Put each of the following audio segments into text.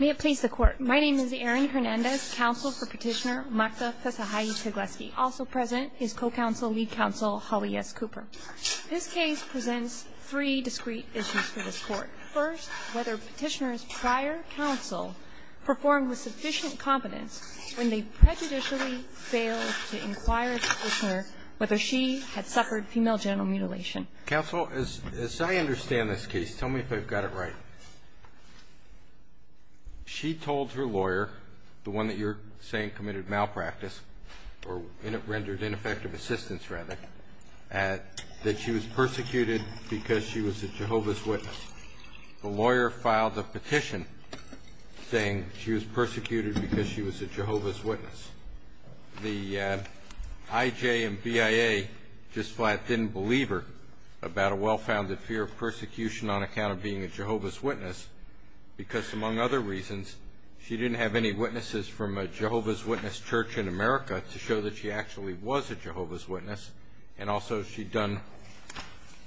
May it please the court. My name is Erin Hernandez, counsel for petitioner Marta Pesahay Teclezghi. Also present is co-counsel, lead counsel Holly S. Cooper. This case presents three discrete issues for this court. First, whether petitioner's prior counsel performed with sufficient competence when they prejudicially failed to inquire the petitioner whether she had suffered female genital mutilation. Counsel, as I understand this case, tell me if I've got it right. She told her lawyer, the one that you're saying committed malpractice or rendered ineffective assistance rather, that she was persecuted because she was a Jehovah's Witness. The lawyer filed a petition saying she was persecuted because she was a Jehovah's Witness. The IJ and BIA just flat didn't believe her about a well-founded fear of persecution on account of being a Jehovah's Witness because, among other reasons, she didn't have any witnesses from a Jehovah's Witness church in America to show that she actually was a Jehovah's Witness and also she'd done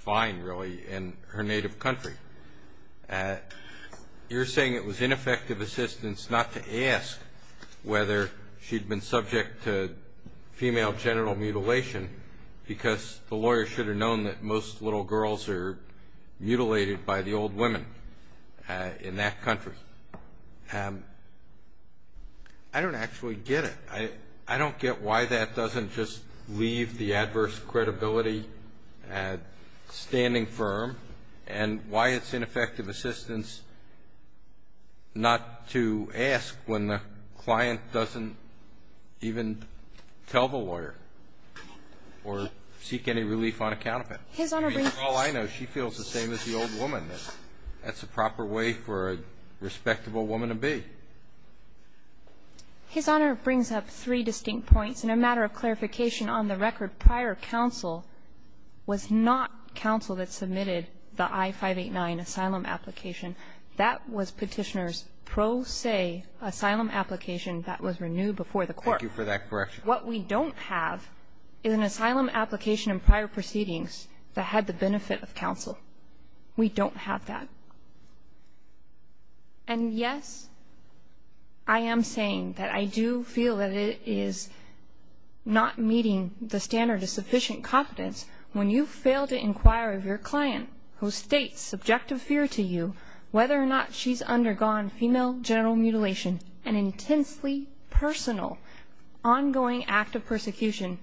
fine, really, in her native country. You're saying it was ineffective assistance not to ask whether she'd been subject to female genital mutilation because the lawyer should have known that most little girls are mutilated by the old women in that country. I don't actually get it. I don't get why that doesn't just leave the adverse credibility standing firm and why it's ineffective assistance not to ask when the client doesn't even tell the lawyer or seek any relief on account of it. All I know, she feels the same as the old woman. That's the proper way for a respectable woman to be. His Honor brings up three distinct points. In a matter of clarification, on the record, prior counsel was not counsel that submitted the I-589 asylum application. That was Petitioner's pro se asylum application that was renewed before the court. Thank you for that correction. What we don't have is an asylum application and prior proceedings that had the benefit of counsel. We don't have that. And yes, I am saying that I do feel that it is not meeting the standard of sufficient competence when you fail to inquire of your client who states subjective fear to you whether or not she's undergone female genital mutilation, an intensely personal, ongoing act of persecution.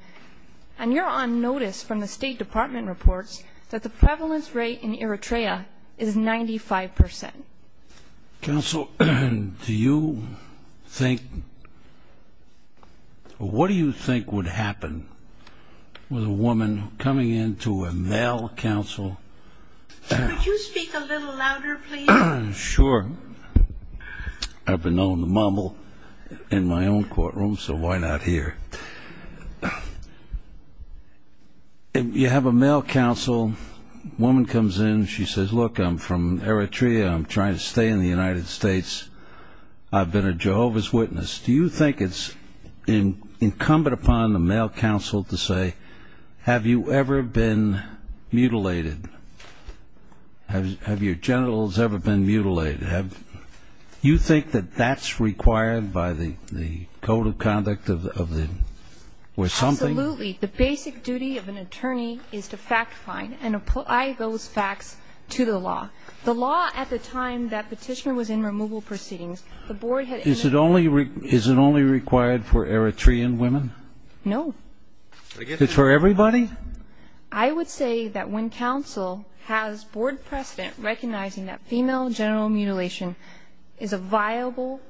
And you're on notice from the State Department reports that the prevalence rate in Eritrea is 95%. Counsel, do you think, what do you think would happen with a woman coming into a male counsel? Could you speak a little louder, please? Sure. I've been known to mumble in my own courtroom, so why not here? You have a male counsel. A woman comes in. She says, look, I'm from Eritrea. I'm trying to stay in the United States. I've been a Jehovah's Witness. Do you think it's incumbent upon the male counsel to say, have you ever been mutilated? Have your genitals ever been mutilated? You think that that's required by the code of conduct of the, where something... Absolutely. The basic duty of an attorney is to fact find and apply those facts to the law. The law at the time that petitioner was in removal proceedings, the board had... Is it only required for Eritrean women? No. It's for everybody? I would say that when counsel has board precedent recognizing that female genital mutilation is a viable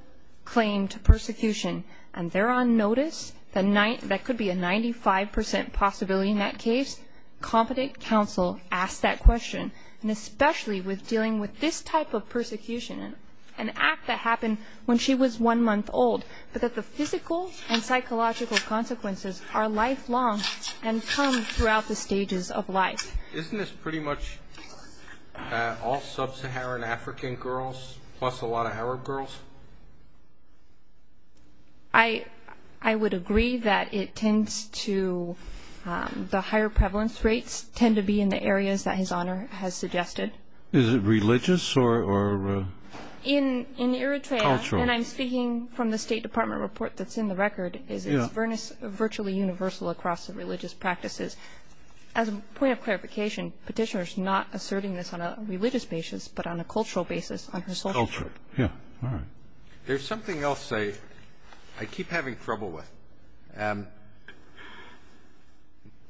claim to persecution and they're on notice, that could be a 95% possibility in that case, competent counsel asks that question. And especially with dealing with this type of persecution, an act that happened when she was one month old, but that the physical and psychological consequences are lifelong and come throughout the stages of life. Isn't this pretty much all Sub-Saharan African girls plus a lot of Arab girls? I would agree that it tends to, the higher prevalence rates tend to be in the areas that His Honor has suggested. Is it religious or cultural? In Eritrea, and I'm speaking from the State Department report that's in the record, it's virtually universal across the religious practices. As a point of clarification, petitioner's not asserting this on a religious basis, but on a cultural basis on her social group. Yeah, all right. There's something else I keep having trouble with.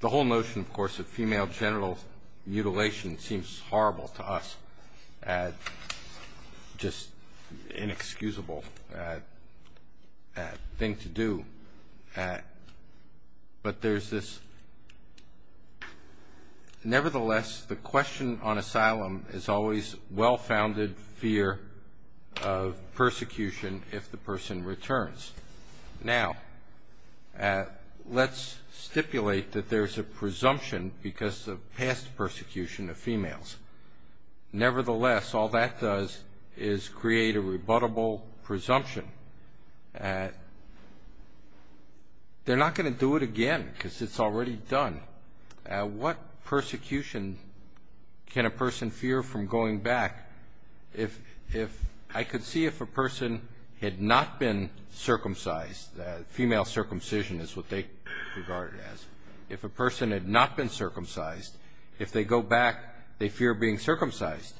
The whole notion, of course, of female genital mutilation seems horrible to us, just inexcusable thing to do. But there's this, nevertheless, the question on asylum is always well-founded fear of persecution if the person returns. Now, let's stipulate that there's a presumption because of past persecution of females. Nevertheless, all that does is create a rebuttable presumption. They're not going to do it again because it's already done. What persecution can a person fear from going back? I could see if a person had not been circumcised, female circumcision is what they regard it as. If a person had not been circumcised, if they go back, they fear being circumcised.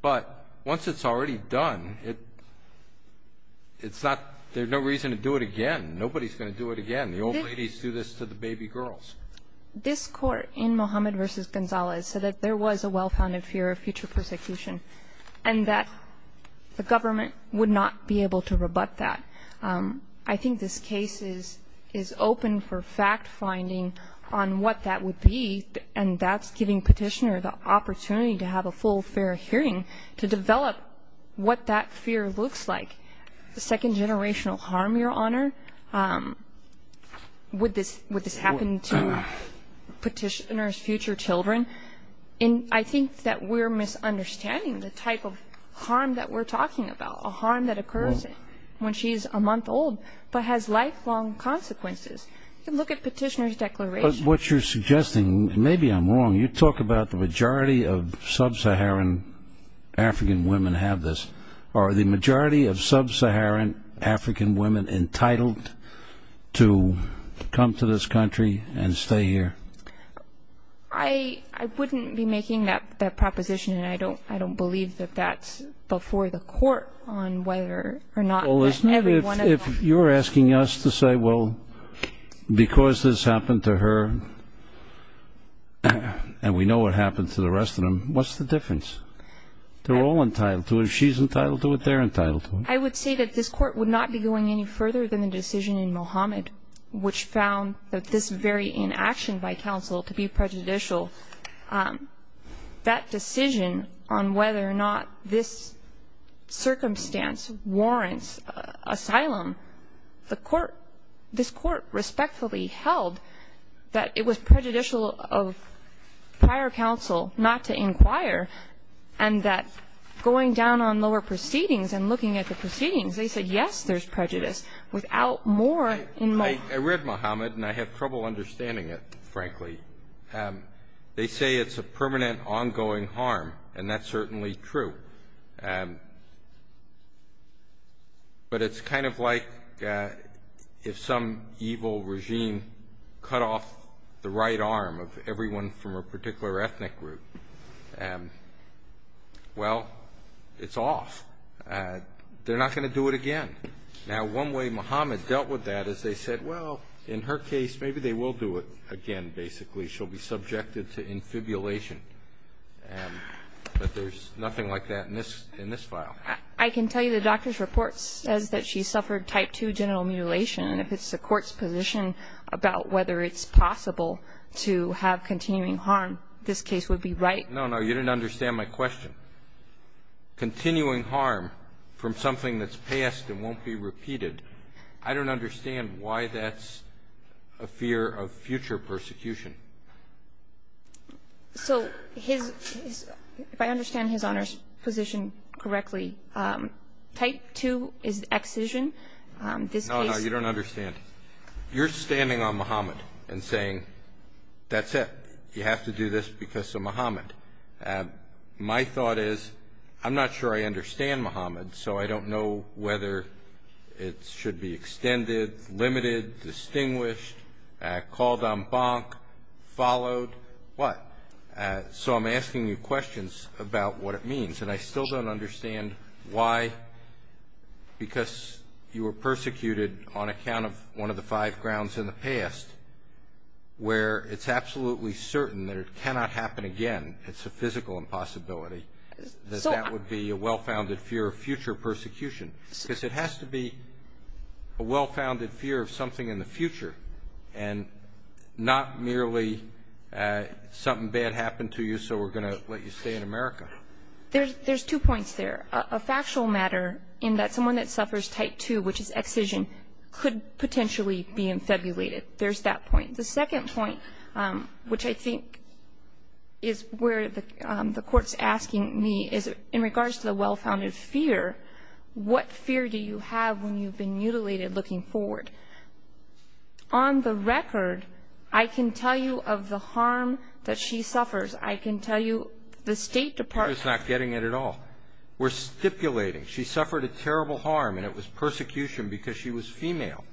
But once it's already done, it's not, there's no reason to do it again. Nobody's going to do it again. The old ladies do this to the baby girls. This Court in Mohammed v. Gonzales said that there was a well-founded fear of future persecution and that the government would not be able to rebut that. I think this case is open for fact-finding on what that would be, and that's giving Petitioner the opportunity to have a full, fair hearing to develop what that fear looks like. Second-generational harm, Your Honor? Would this happen to Petitioner's future children? I think that we're misunderstanding the type of harm that we're talking about, a harm that occurs when she's a month old but has lifelong consequences. Look at Petitioner's declaration. But what you're suggesting, maybe I'm wrong, you talk about the majority of sub-Saharan African women have this. Are the majority of sub-Saharan African women entitled to come to this country and stay here? I wouldn't be making that proposition, and I don't believe that that's before the Court on whether or not every one of them. Well, listen, if you're asking us to say, well, because this happened to her and we know what happened to the rest of them, what's the difference? They're all entitled to it. If she's entitled to it, they're entitled to it. I would say that this Court would not be going any further than the decision in Mohammed, which found that this very inaction by counsel to be prejudicial, that decision on whether or not this circumstance warrants asylum, this Court respectfully held that it was prejudicial of prior counsel not to inquire and that going down on lower proceedings and looking at the proceedings, they said, yes, there's prejudice, without more in mind. I read Mohammed, and I have trouble understanding it, frankly. They say it's a permanent ongoing harm, and that's certainly true. But it's kind of like if some evil regime cut off the right arm of everyone from a particular ethnic group. Well, it's off. They're not going to do it again. Now, one way Mohammed dealt with that is they said, well, in her case, maybe they will do it again, basically. She'll be subjected to infibulation. But there's nothing like that in this file. I can tell you the doctor's report says that she suffered type 2 genital mutilation, and if it's the Court's position about whether it's possible to have continuing harm, this case would be right. No, no. You didn't understand my question. Continuing harm from something that's passed and won't be repeated, I don't understand why that's a fear of future persecution. So if I understand His Honor's position correctly, type 2 is excision. No, no. You don't understand. You're standing on Mohammed and saying, that's it. You have to do this because of Mohammed. My thought is, I'm not sure I understand Mohammed, so I don't know whether it should be extended, limited, distinguished, called en banc, followed, what? So I'm asking you questions about what it means, and I still don't understand why, because you were persecuted on account of one of the five grounds in the past where it's absolutely certain that it cannot happen again, it's a physical impossibility, that that would be a well-founded fear of future persecution, because it has to be a well-founded fear of something in the future and not merely something bad happened to you so we're going to let you stay in America. There's two points there. A factual matter in that someone that suffers type 2, which is excision, could potentially be infabulated. There's that point. The second point, which I think is where the Court's asking me, is in regards to the well-founded fear, what fear do you have when you've been mutilated looking forward? On the record, I can tell you of the harm that she suffers. I can tell you the State Department — She's not getting it at all. We're stipulating. She suffered a terrible harm, and it was persecution because she was female.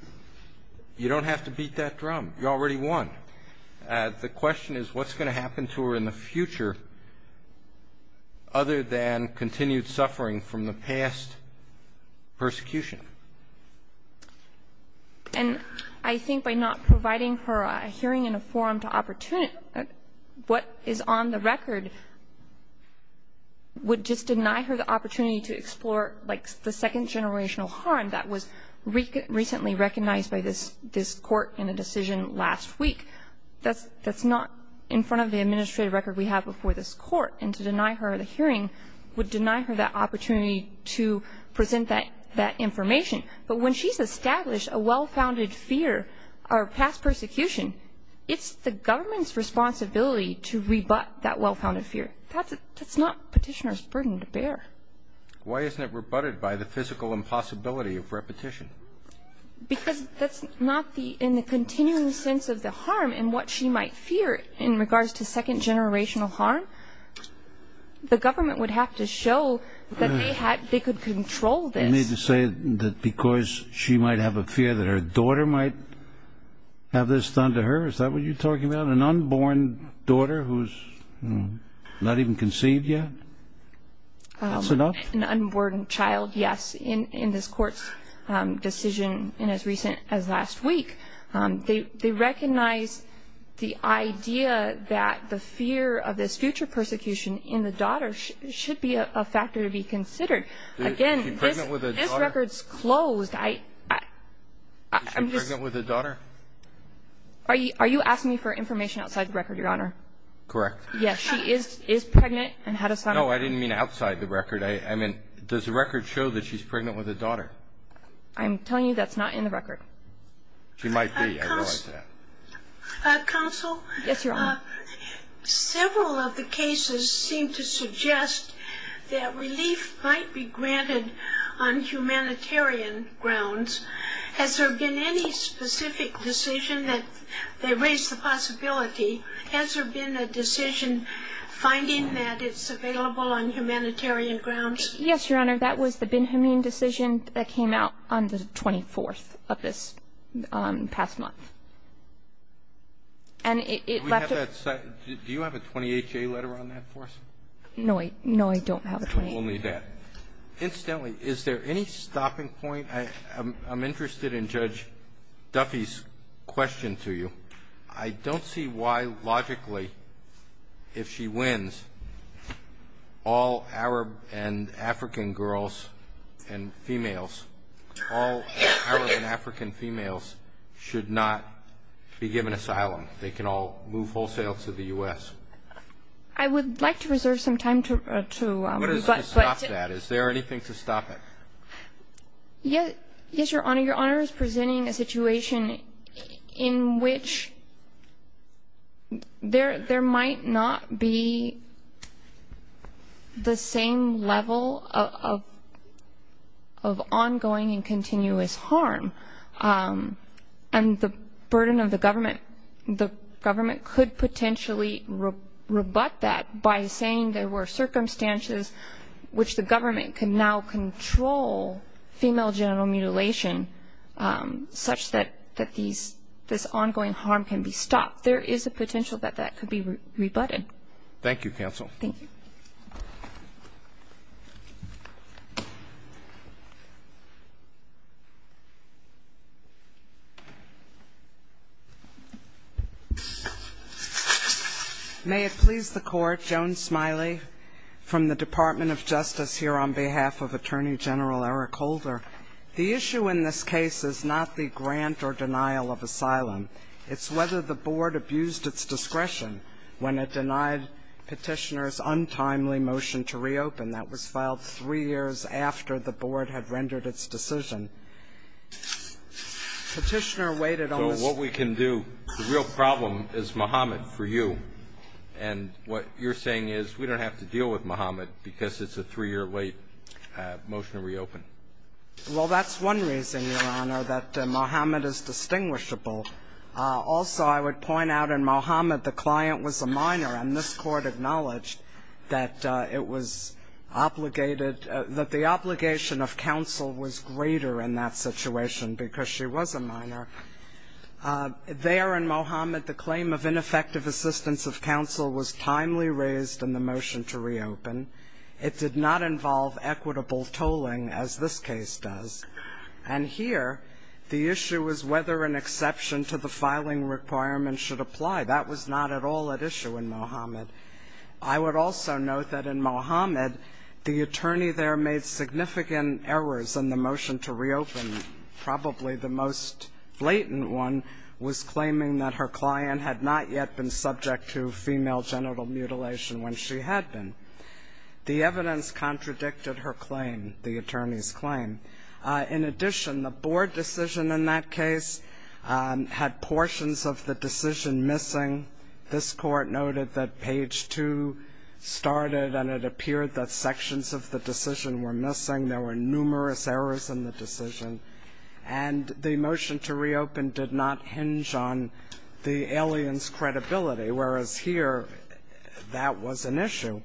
You don't have to beat that drum. You already won. The question is what's going to happen to her in the future other than continued suffering from the past persecution. And I think by not providing her a hearing and a forum to opportunity, what is on the record would just deny her the opportunity to explore, like, the second-generational harm that was recently recognized by this Court in a decision last week. That's not in front of the administrative record we have before this Court. And to deny her the hearing would deny her the opportunity to present that information. But when she's established a well-founded fear or past persecution, it's the government's responsibility to rebut that well-founded fear. That's not Petitioner's burden to bear. Why isn't it rebutted by the physical impossibility of repetition? Because that's not in the continuing sense of the harm and what she might fear in regards to second-generational harm. The government would have to show that they could control this. You mean to say that because she might have a fear that her daughter might have this done to her? Is that what you're talking about, an unborn daughter who's not even conceived yet? That's enough. An unborn child, yes, in this Court's decision as recent as last week. They recognize the idea that the fear of this future persecution in the daughter should be a factor to be considered. Again, this record's closed. Is she pregnant with a daughter? Are you asking me for information outside the record, Your Honor? Correct. Yes, she is pregnant and had a son. No, I didn't mean outside the record. I mean, does the record show that she's pregnant with a daughter? I'm telling you that's not in the record. She might be, I realize that. Counsel? Yes, Your Honor. Several of the cases seem to suggest that relief might be granted on humanitarian grounds. Has there been any specific decision that they raise the possibility? Has there been a decision finding that it's available on humanitarian grounds? Yes, Your Honor. That was the Benjamin decision that came out on the 24th of this past month. And it left a ---- Do you have a 28-K letter on that for us? No, I don't have a 28-K. Only that. Incidentally, is there any stopping point? I'm interested in Judge Duffy's question to you. I don't see why, logically, if she wins, all Arab and African girls and females, all Arab and African females should not be given asylum. They can all move wholesale to the U.S. I would like to reserve some time to ---- Is there anything to stop that? Yes, Your Honor. Your Honor is presenting a situation in which there might not be the same level of ongoing and continuous harm. And the burden of the government, the government could potentially rebut that by saying there were circumstances which the government can now control female genital mutilation such that this ongoing harm can be stopped. There is a potential that that could be rebutted. Thank you, counsel. Thank you. May it please the Court, Joan Smiley from the Department of Justice here on behalf of Attorney General Eric Holder. The issue in this case is not the grant or denial of asylum. It's whether the Board abused its discretion when it denied Petitioner's untimely motion to reopen. That was filed three years after the Board had rendered its decision. Petitioner waited on this ---- So what we can do, the real problem is Mohammed for you. And what you're saying is we don't have to deal with Mohammed because it's a three-year-late motion to reopen. Well, that's one reason, Your Honor, that Mohammed is distinguishable. Also, I would point out in Mohammed the client was a minor, and this Court acknowledged that it was obligated, that the obligation of counsel was greater in that situation because she was a minor. There in Mohammed the claim of ineffective assistance of counsel was timely raised in the motion to reopen. It did not involve equitable tolling, as this case does. And here the issue was whether an exception to the filing requirement should apply. That was not at all at issue in Mohammed. I would also note that in Mohammed the attorney there made significant errors in the motion to reopen. Probably the most blatant one was claiming that her client had not yet been subject to female genital mutilation when she had been. The evidence contradicted her claim, the attorney's claim. In addition, the board decision in that case had portions of the decision missing. This Court noted that page 2 started and it appeared that sections of the decision were missing. There were numerous errors in the decision. And the motion to reopen did not hinge on the alien's credibility, whereas here that was an issue.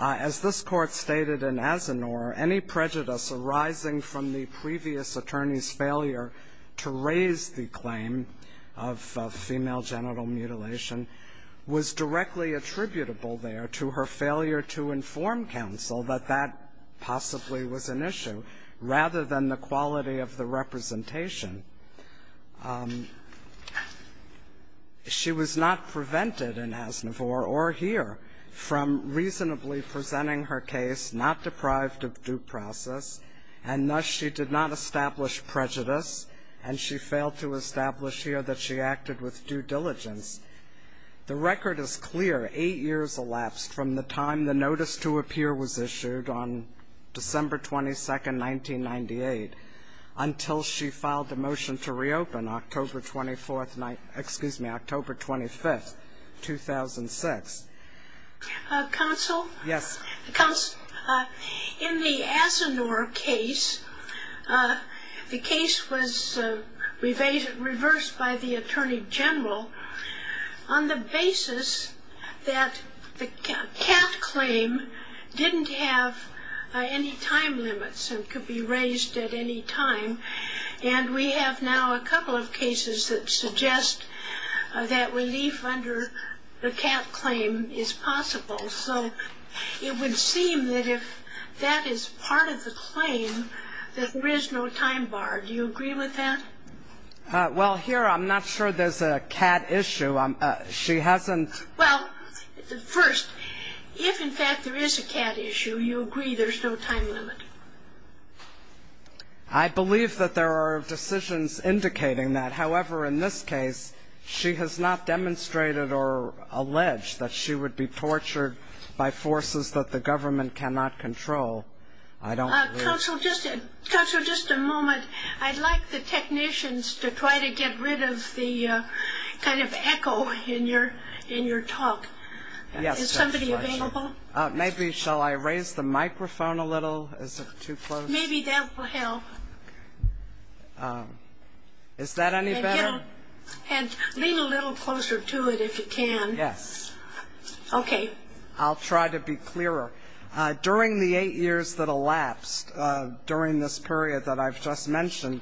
As this Court stated in Asinor, any prejudice arising from the previous attorney's failure to raise the claim of female genital mutilation was directly attributable there to her failure to inform counsel that that possibly was an issue, rather than the quality of the representation. She was not prevented in Asinor or here from reasonably presenting her case not deprived of due process, and thus she did not establish prejudice, and she failed to establish here that she acted with due diligence. The record is clear. Eight years elapsed from the time the notice to appear was issued on December 22, 1998 until she filed a motion to reopen October 24th, excuse me, October 25th, 2006. Counsel? Yes. In the Asinor case, the case was reversed by the attorney general on the basis that the cat claim didn't have any time limits and could be raised at any time, and we have now a couple of cases that suggest that relief under the cat claim is possible. So it would seem that if that is part of the claim, that there is no time bar. Do you agree with that? Well, here I'm not sure there's a cat issue. She hasn't ‑‑ Well, first, if in fact there is a cat issue, you agree there's no time limit. I believe that there are decisions indicating that. However, in this case, she has not demonstrated or alleged that she would be tortured by forces that the government cannot control. I don't believe ‑‑ Counsel, just a moment. I'd like the technicians to try to get rid of the kind of echo in your talk. Is somebody available? Maybe shall I raise the microphone a little? Is it too close? Maybe that will help. Is that any better? Lean a little closer to it if you can. Yes. Okay. I'll try to be clearer. During the eight years that elapsed during this period that I've just mentioned,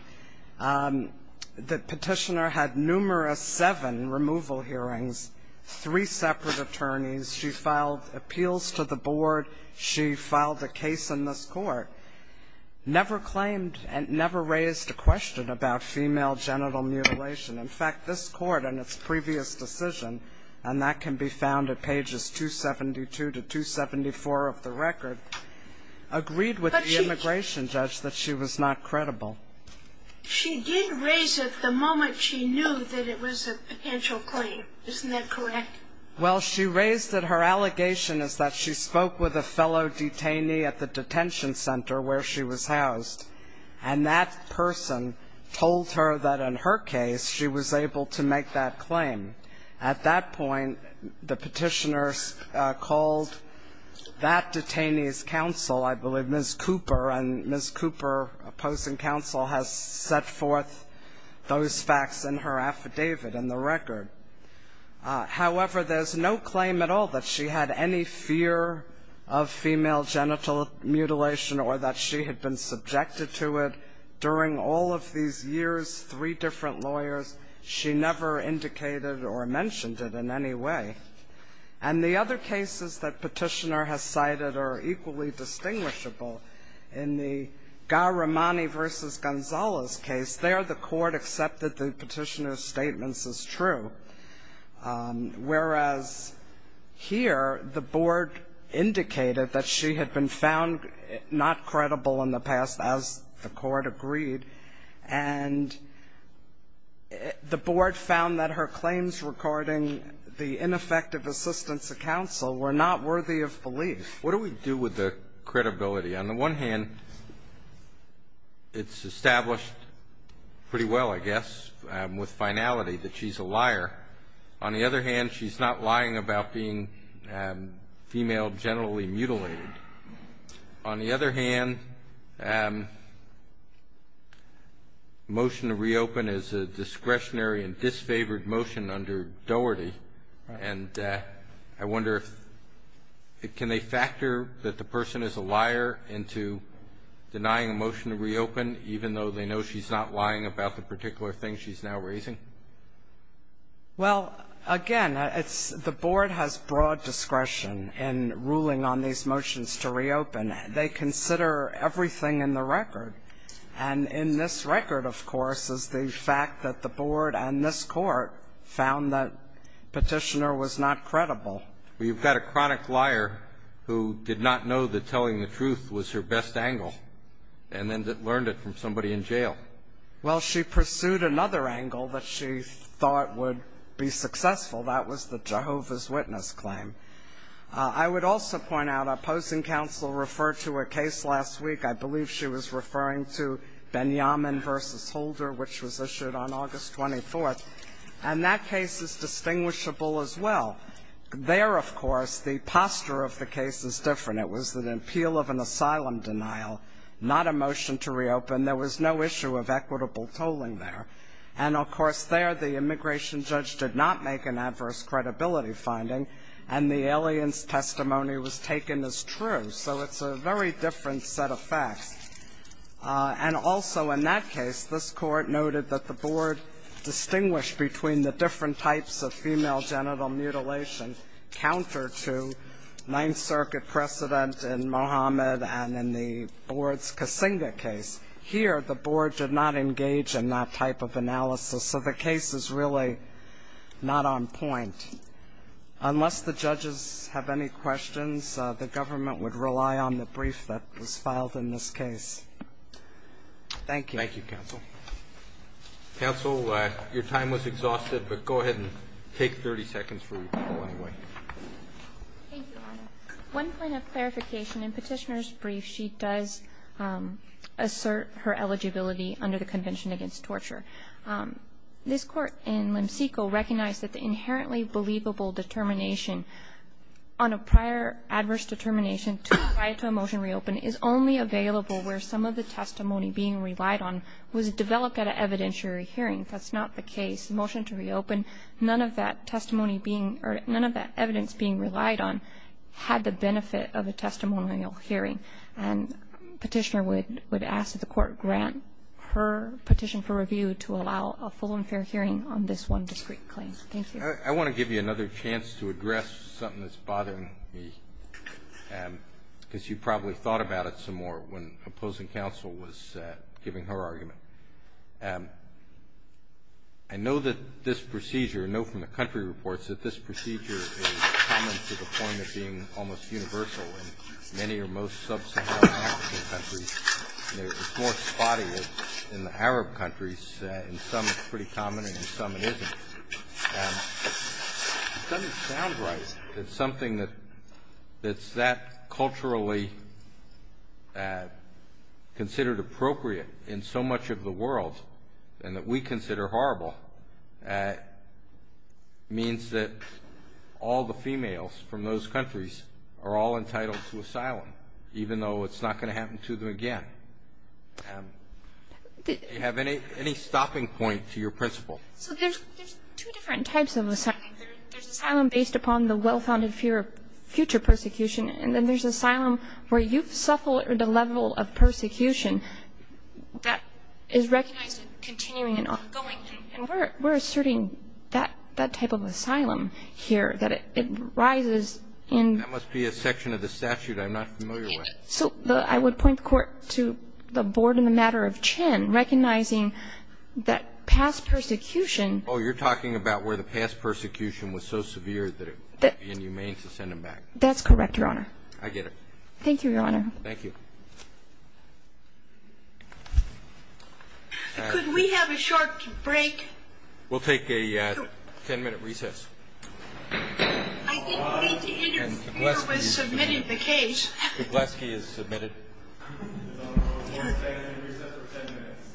the petitioner had numerous seven removal hearings, three separate attorneys. She filed appeals to the board. She filed a case in this court, never claimed and never raised a question about female genital mutilation. In fact, this court in its previous decision, and that can be found at pages 272 to 274 of the record, agreed with the immigration judge that she was not credible. She did raise it the moment she knew that it was a potential claim. Isn't that correct? Well, she raised that her allegation is that she spoke with a fellow detainee at the detention center where she was housed, and that person told her that in her case she was able to make that claim. At that point, the petitioner called that detainee's counsel, I believe, Ms. Cooper, and Ms. Cooper, opposing counsel, has set forth those facts in her affidavit in the record. However, there's no claim at all that she had any fear of female genital mutilation or that she had been subjected to it during all of these years, three different lawyers. She never indicated or mentioned it in any way. And the other cases that petitioner has cited are equally distinguishable. In the Garamani v. Gonzalez case, there the court accepted the petitioner's statements as true, whereas here the board indicated that she had been found not credible in the past, as the court agreed. And the board found that her claims recording the ineffective assistance of counsel were not worthy of belief. What do we do with the credibility? On the one hand, it's established pretty well, I guess, with finality that she's a liar. On the other hand, she's not lying about being female genitally mutilated. On the other hand, motion to reopen is a discretionary and disfavored motion under Doherty, and I wonder if can they factor that the person is a liar into denying a motion to reopen, even though they know she's not lying about the particular thing she's now raising? Well, again, the board has broad discretion in ruling on these motions to reopen. They consider everything in the record. And in this record, of course, is the fact that the board and this court found that petitioner was not credible. Well, you've got a chronic liar who did not know that telling the truth was her best angle and then learned it from somebody in jail. Well, she pursued another angle that she thought would be successful. That was the Jehovah's Witness claim. I would also point out opposing counsel referred to a case last week. I believe she was referring to Benyamin v. Holder, which was issued on August 24th. And that case is distinguishable as well. There, of course, the posture of the case is different. It was an appeal of an asylum denial, not a motion to reopen. There was no issue of equitable tolling there. And, of course, there the immigration judge did not make an adverse credibility finding, and the alien's testimony was taken as true. So it's a very different set of facts. And also in that case, this court noted that the board distinguished between the different types of female genital mutilation counter to Ninth Circuit precedent in Mohammed and in the board's Kasinga case. Here, the board did not engage in that type of analysis. So the case is really not on point. Unless the judges have any questions, the government would rely on the brief that was filed in this case. Thank you. Thank you, counsel. Counsel, your time was exhausted, but go ahead and take 30 seconds for your call anyway. Thank you, Your Honor. One point of clarification. In Petitioner's brief, she does assert her eligibility under the Convention Against Torture. This court in Lemsico recognized that the inherently believable determination on a prior adverse determination to apply to a motion to reopen is only available where some of the testimony being relied on was developed at an evidentiary hearing. That's not the case. The motion to reopen, none of that testimony being or none of that evidence being relied on had the benefit of a testimonial hearing. And Petitioner would ask that the court grant her petition for review to allow a full and fair hearing on this one discrete claim. Thank you. I want to give you another chance to address something that's bothering me, because you probably thought about it some more when opposing counsel was giving her argument. I know that this procedure, I know from the country reports, that this procedure is common to the point of being almost universal in many or most sub-Saharan African countries. It's more spotty in the Arab countries. In some it's pretty common, and in some it isn't. It doesn't sound right that something that's that culturally considered appropriate in so much of the world and that we consider horrible means that all the females from those countries are all entitled to asylum, even though it's not going to happen to them again. Do you have any stopping point to your principle? So there's two different types of asylum. There's asylum based upon the well-founded fear of future persecution, and then there's asylum where you've suffered a level of persecution that is recognized as continuing and ongoing. And we're asserting that type of asylum here, that it rises in the... That must be a section of the statute I'm not familiar with. So I would point the Court to the board in the matter of Chin, recognizing that past persecution... Oh, you're talking about where the past persecution was so severe that it would be inhumane to send them back. That's correct, Your Honor. I get it. Thank you, Your Honor. Thank you. Could we have a short break? We'll take a ten-minute recess. I didn't mean to interfere with submitting the case. Kugleski is submitted. We'll take a ten-minute recess for ten minutes.